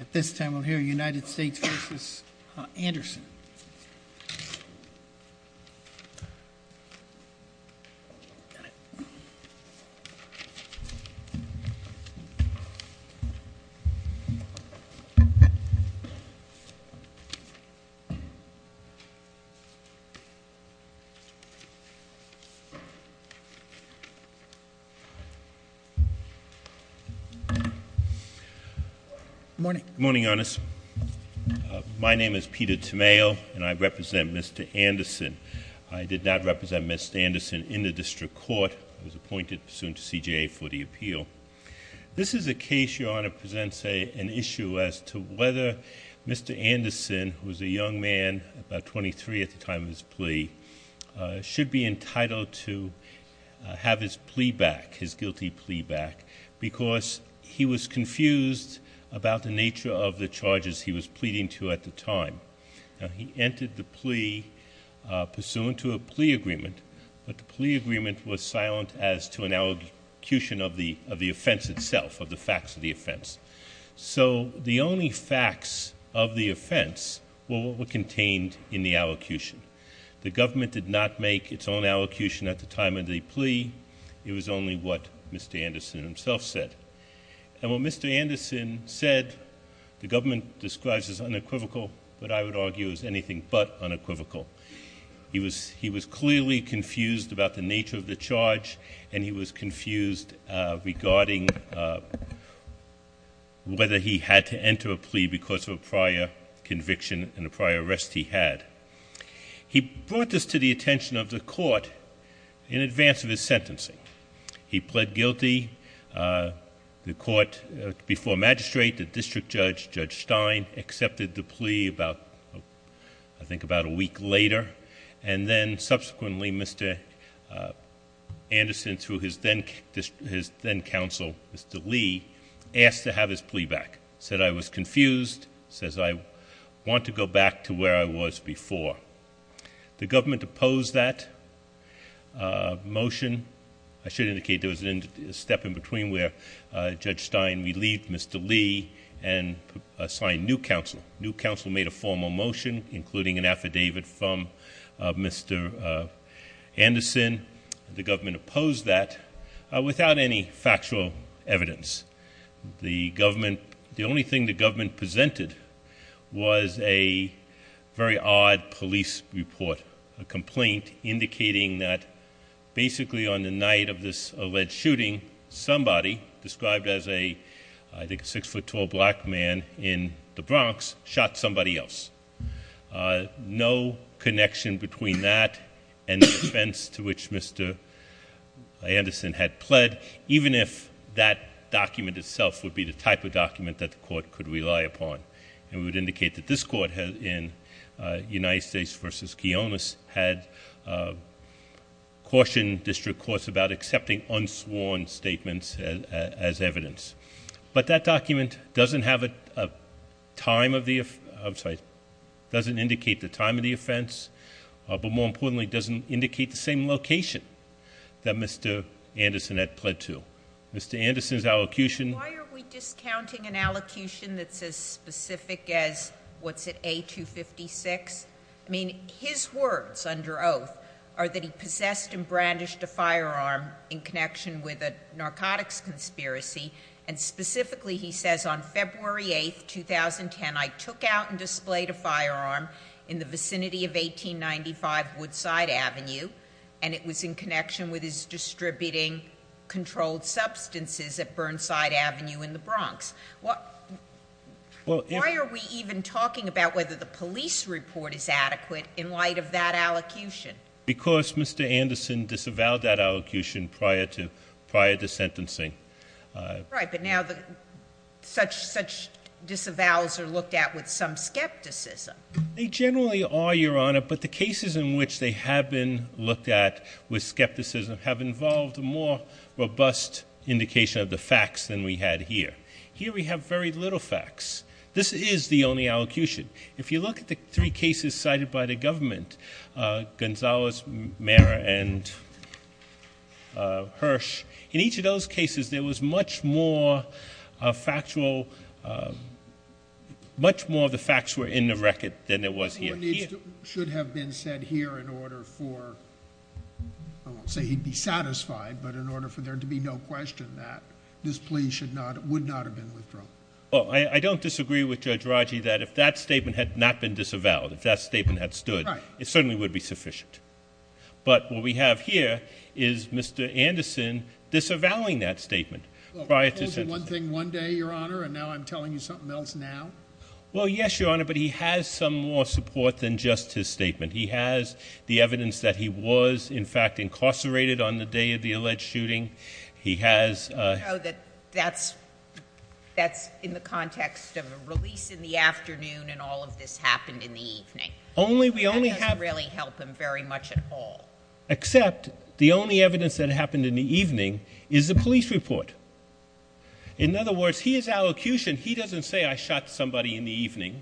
At this time we'll hear United States v. Anderson. Good morning, Your Honor. My name is Peter Tamayo and I represent Mr. Anderson. I did not represent Mr. Anderson in the District Court. I was appointed soon to CJA for the appeal. This is a case, Your Honor, presents an issue as to whether Mr. Anderson, who was a young man, about 23 at the time of his plea, should be entitled to have his plea back, his guilty plea back, because he was confused about the nature of the charges he was pleading to at the time. He entered the plea pursuant to a plea agreement, but the plea agreement was silent as to an allocution of the offense itself, of the facts of the offense. So the only facts of the offense were what were contained in the allocution. The government did not make its own allocution at the time of the plea. It was only what Mr. Anderson himself said. And what Mr. Anderson said the government describes as unequivocal, but I would argue as anything but unequivocal. He was clearly confused about the nature of the charge, and he was confused regarding whether he had to enter a plea because of a prior conviction and a prior arrest he had. He brought this to the attention of the court in advance of his sentencing. He pled guilty. The court, before magistrate, the district judge, Judge Stein, accepted the plea about, I think, about a week later. And then, subsequently, Mr. Anderson, through his then-counsel, Mr. Lee, asked to have his plea back. He said, I was confused. He says, I want to go back to where I was before. The government opposed that motion. I should indicate there was a step in between where Judge Stein relieved Mr. Lee and assigned new counsel. New counsel made a formal motion, including an affidavit from Mr. Anderson. The government opposed that without any factual evidence. The government, the only thing the government presented was a very odd police report, a complaint indicating that basically on the night of this alleged shooting, somebody described as a, I think, six-foot-tall black man in the Bronx shot somebody else. No connection between that and the defense to which Mr. Anderson had pled, even if that document itself would be the type of document that the court could rely upon. And we would indicate that this court in United States v. Gionis had cautioned district courts about accepting unsworn statements as evidence. But that document doesn't have a time of the, I'm sorry, doesn't indicate the time of the offense, but more importantly doesn't indicate the same location that Mr. Anderson had pled to. Mr. Anderson's allocution- Specific as, what's it, A256? I mean, his words under oath are that he possessed and brandished a firearm in connection with a narcotics conspiracy. And specifically he says on February 8th, 2010, I took out and displayed a firearm in the vicinity of 1895 Woodside Avenue. And it was in connection with his distributing controlled substances at Burnside Avenue in the Bronx. Why are we even talking about whether the police report is adequate in light of that allocution? Because Mr. Anderson disavowed that allocution prior to sentencing. Right, but now such disavows are looked at with some skepticism. They generally are, Your Honor, but the cases in which they have been looked at with skepticism have involved a more robust indication of the facts than we had here. Here we have very little facts. This is the only allocution. If you look at the three cases cited by the government, Gonzalez, Maher, and Hirsch, in each of those cases there was much more factual, much more of the facts were in the record than there was here. Your needs should have been set here in order for, I won't say he'd be satisfied, but in order for there to be no question that this plea would not have been withdrawn. Well, I don't disagree with Judge Raji that if that statement had not been disavowed, if that statement had stood, it certainly would be sufficient. But what we have here is Mr. Anderson disavowing that statement prior to sentencing. Well, he told you one thing one day, Your Honor, and now I'm telling you something else now? Well, yes, Your Honor, but he has some more support than just his statement. He has the evidence that he was, in fact, incarcerated on the day of the alleged shooting. He has... You know that that's in the context of a release in the afternoon and all of this happened in the evening. Only we only have... That doesn't really help him very much at all. Except the only evidence that happened in the evening is the police report. In other words, he is allocution. He doesn't say I shot somebody in the evening.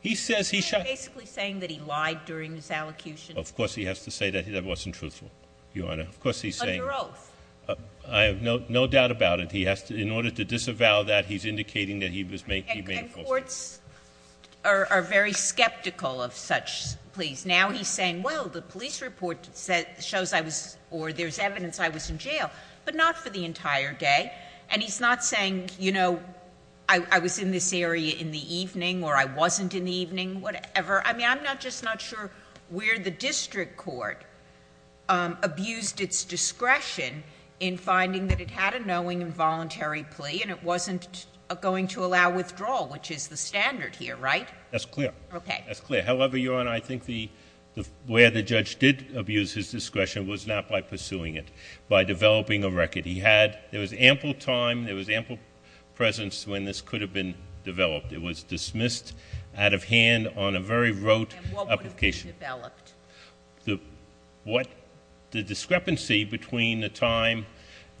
He says he shot... You're basically saying that he lied during his allocution. Of course he has to say that. That wasn't truthful, Your Honor. Of course he's saying... Under oath. I have no doubt about it. He has to, in order to disavow that, he's indicating that he made a false... And courts are very skeptical of such pleas. Now he's saying, well, the police report shows I was, or there's evidence I was in jail. But not for the entire day. And he's not saying, you know, I was in this area in the evening or I wasn't in the evening, whatever. I mean, I'm just not sure where the district court abused its discretion in finding that it had a knowing involuntary plea and it wasn't going to allow withdrawal, which is the standard here, right? That's clear. Okay. That's clear. However, Your Honor, I think where the judge did abuse his discretion was not by pursuing it. By developing a record. He had, there was ample time, there was ample presence when this could have been developed. It was dismissed out of hand on a very rote application. And what would have been developed? The discrepancy between the time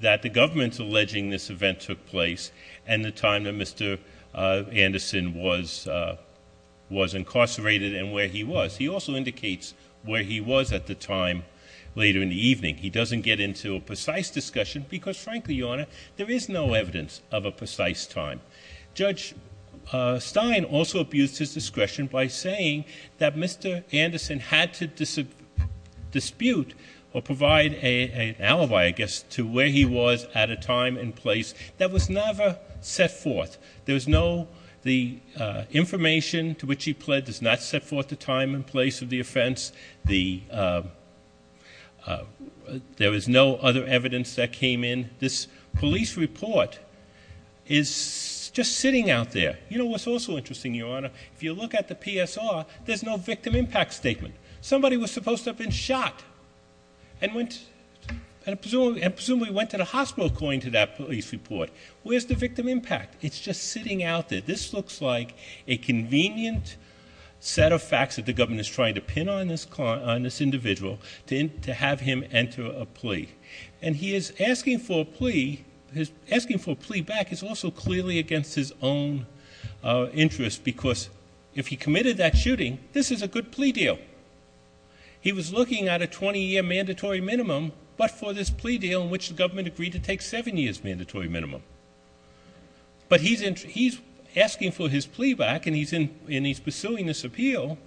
that the government's alleging this event took place and the time that Mr. Anderson was incarcerated and where he was. I think he doesn't get into a precise discussion because frankly, Your Honor, there is no evidence of a precise time. Judge Stein also abused his discretion by saying that Mr. Anderson had to dispute or provide an alibi, I guess, to where he was at a time and place that was never set forth. There's no, the information to which he pled does not set forth the time and place of the offense. There is no other evidence that came in. This police report is just sitting out there. You know what's also interesting, Your Honor? If you look at the PSR, there's no victim impact statement. Somebody was supposed to have been shot and presumably went to the hospital according to that police report. Where's the victim impact? It's just sitting out there. This looks like a convenient set of facts that the government is trying to pin on this individual to have him enter a plea. And he is asking for a plea, asking for a plea back is also clearly against his own interest because if he committed that shooting, this is a good plea deal. He was looking at a 20-year mandatory minimum but for this plea deal in which the government agreed to take 7 years mandatory minimum. But he's asking for his plea back and he's pursuing this appeal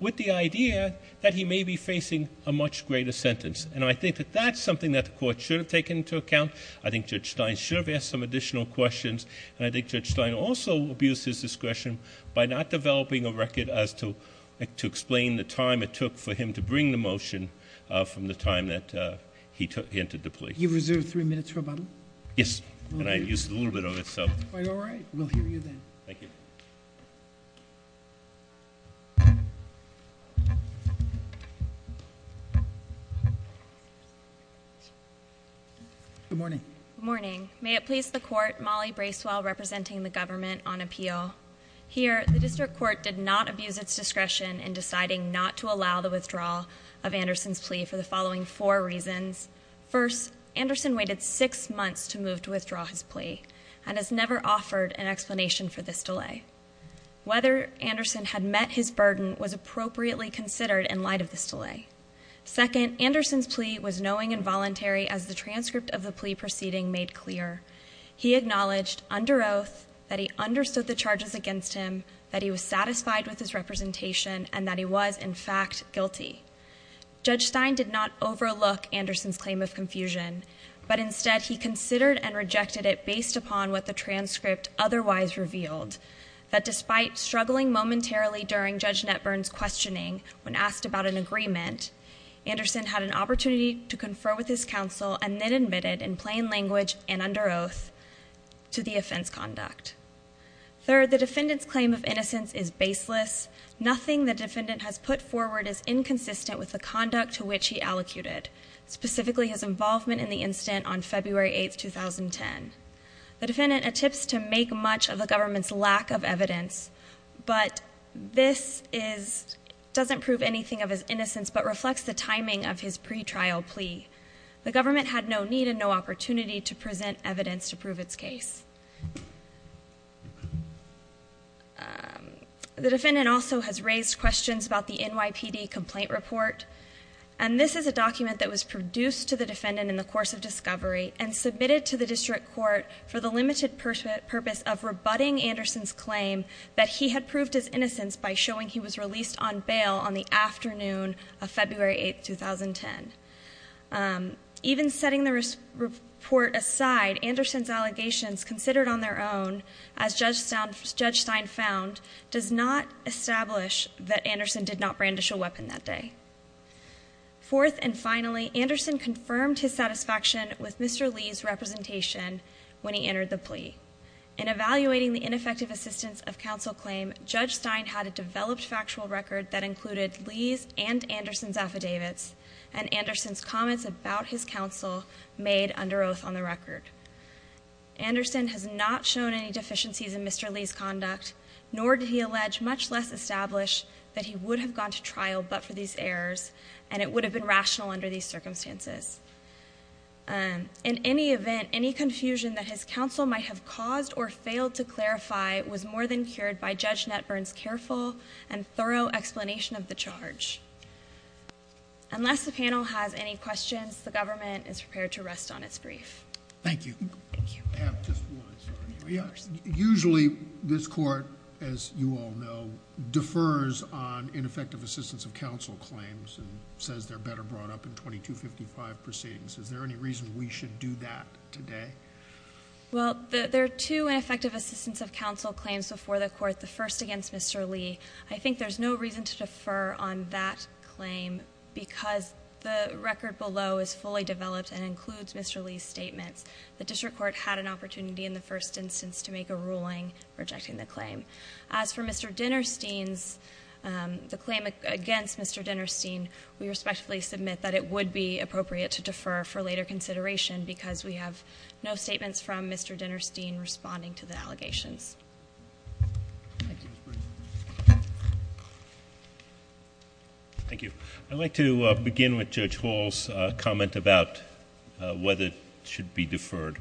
with the idea that he may be facing a much greater sentence. And I think that that's something that the court should have taken into account. I think Judge Stein should have asked some additional questions. And I think Judge Stein also abused his discretion by not developing a record as to explain the time it took for him to bring the motion from the time that he entered the plea. You've reserved three minutes for a button? Yes, and I used a little bit of it, so. That's quite all right. We'll hear you then. Thank you. Good morning. Good morning. May it please the court, Molly Bracewell representing the government on appeal. Here, the district court did not abuse its discretion in deciding not to allow the withdrawal of Anderson's plea for the following four reasons. First, Anderson waited six months to move to withdraw his plea and has never offered an explanation for this delay. Whether Anderson had met his burden was appropriately considered in light of this delay. Second, Anderson's plea was knowing and voluntary as the transcript of the plea proceeding made clear. He acknowledged under oath that he understood the charges against him, that he was satisfied with his representation, and that he was, in fact, guilty. Judge Stein did not overlook Anderson's claim of confusion, but instead he considered and rejected it based upon what the transcript otherwise revealed, that despite struggling momentarily during Judge Netburn's questioning when asked about an agreement, Anderson had an opportunity to confer with his counsel and then admitted in plain language and under oath to the offense conduct. Third, the defendant's claim of innocence is baseless. Nothing the defendant has put forward is inconsistent with the conduct to which he allocated, specifically his involvement in the incident on February 8th, 2010. The defendant attempts to make much of the government's lack of evidence, but this doesn't prove anything of his innocence, but reflects the timing of his pretrial plea. The government had no need and no opportunity to present evidence to prove its case. The defendant also has raised questions about the NYPD complaint report, and this is a document that was produced to the defendant in the course of discovery and submitted to the district court for the limited purpose of rebutting Anderson's claim that he had proved his innocence by showing he was released on bail on the afternoon of February 8th, 2010. Even setting the report aside, Anderson's allegations considered on their own, as Judge Stein found, does not establish that Anderson did not brandish a weapon that day. Fourth and finally, Anderson confirmed his satisfaction with Mr. Lee's representation when he entered the plea. In evaluating the ineffective assistance of counsel claim, Judge Stein had a developed factual record that included Lee's and Anderson's affidavits and Anderson's comments about his counsel made under oath on the record. Anderson has not shown any deficiencies in Mr. Lee's conduct, nor did he allege, much less establish, that he would have gone to trial but for these errors and it would have been rational under these circumstances. In any event, any confusion that his counsel might have caused or failed to clarify was more than cured by Judge Netburn's careful and thorough explanation of the charge. Unless the panel has any questions, the government is prepared to rest on its brief. Thank you. Usually this court, as you all know, defers on ineffective assistance of counsel claims and says they're better brought up in 2255 proceedings. Is there any reason we should do that today? Well, there are two ineffective assistance of counsel claims before the court, the first against Mr. Lee. I think there's no reason to defer on that claim because the record below is fully developed and includes Mr. Lee's statements. The district court had an opportunity in the first instance to make a ruling rejecting the claim. As for Mr. Dinerstein's, the claim against Mr. Dinerstein, we respectfully submit that it would be appropriate to defer for later consideration because we have no statements from Mr. Dinerstein responding to the allegations. Thank you. I'd like to begin with Judge Hall's comment about whether it should be deferred.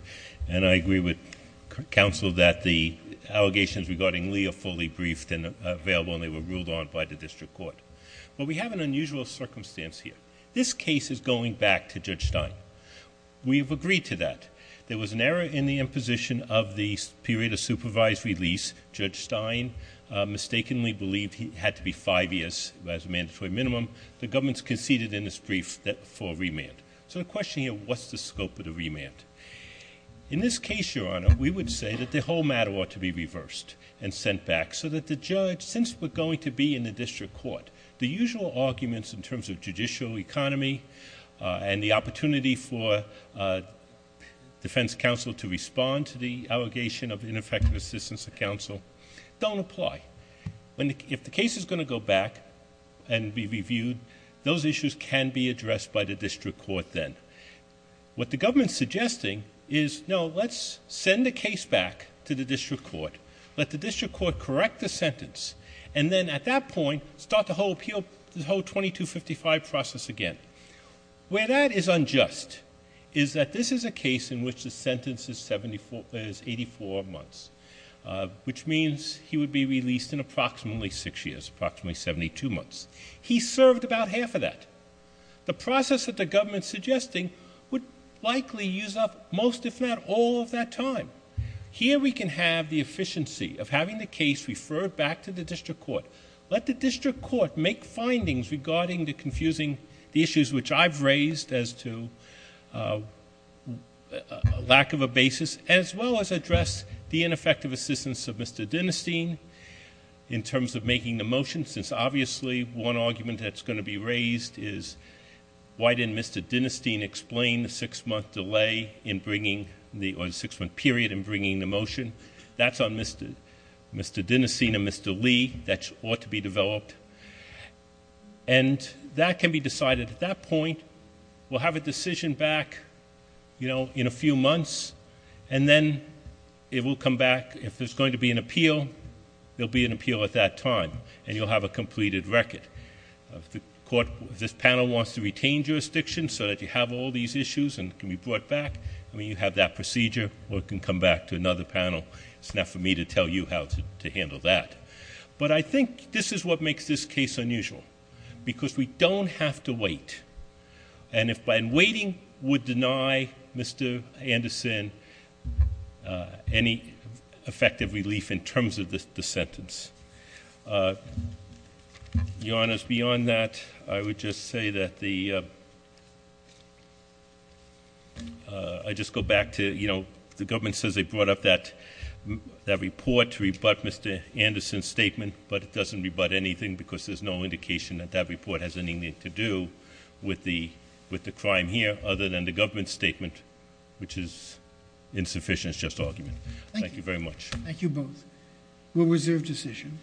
And I agree with counsel that the allegations regarding Lee are fully briefed and available, and they were ruled on by the district court. But we have an unusual circumstance here. This case is going back to Judge Stein. We have agreed to that. There was an error in the imposition of the period of supervised release. Judge Stein mistakenly believed it had to be five years as a mandatory minimum. The government conceded in its brief for a remand. So the question here, what's the scope of the remand? In this case, Your Honor, we would say that the whole matter ought to be reversed and sent back so that the judge, since we're going to be in the district court, the usual arguments in terms of judicial economy and the opportunity for defense counsel to respond to the allegation of ineffective assistance of counsel don't apply. If the case is going to go back and be reviewed, those issues can be addressed by the district court then. What the government is suggesting is, no, let's send the case back to the district court. Let the district court correct the sentence. And then at that point, start the whole 2255 process again. Where that is unjust is that this is a case in which the sentence is 84 months, which means he would be released in approximately six years, approximately 72 months. He served about half of that. The process that the government is suggesting would likely use up most, if not all, of that time. Here we can have the efficiency of having the case referred back to the district court. Let the district court make findings regarding the confusing issues, which I've raised as to a lack of a basis, as well as address the ineffective assistance of Mr. Dinerstein in terms of making the motion, since obviously one argument that's going to be raised is, why didn't Mr. Dinerstein explain the six-month period in bringing the motion? That's on Mr. Dinerstein and Mr. Lee. That ought to be developed. And that can be decided at that point. We'll have a decision back in a few months, and then it will come back. If there's going to be an appeal, there'll be an appeal at that time, and you'll have a completed record. If this panel wants to retain jurisdiction so that you have all these issues and can be brought back, you have that procedure, or it can come back to another panel. It's not for me to tell you how to handle that. But I think this is what makes this case unusual, because we don't have to wait. And waiting would deny Mr. Anderson any effective relief in terms of the sentence. Your Honors, beyond that, I would just say that the- I just go back to, you know, the government says they brought up that report to rebut Mr. Anderson's statement, but it doesn't rebut anything because there's no indication that that report has anything to do with the crime here, other than the government's statement, which is insufficient. It's just argument. Thank you very much. Thank you both. We'll reserve decision.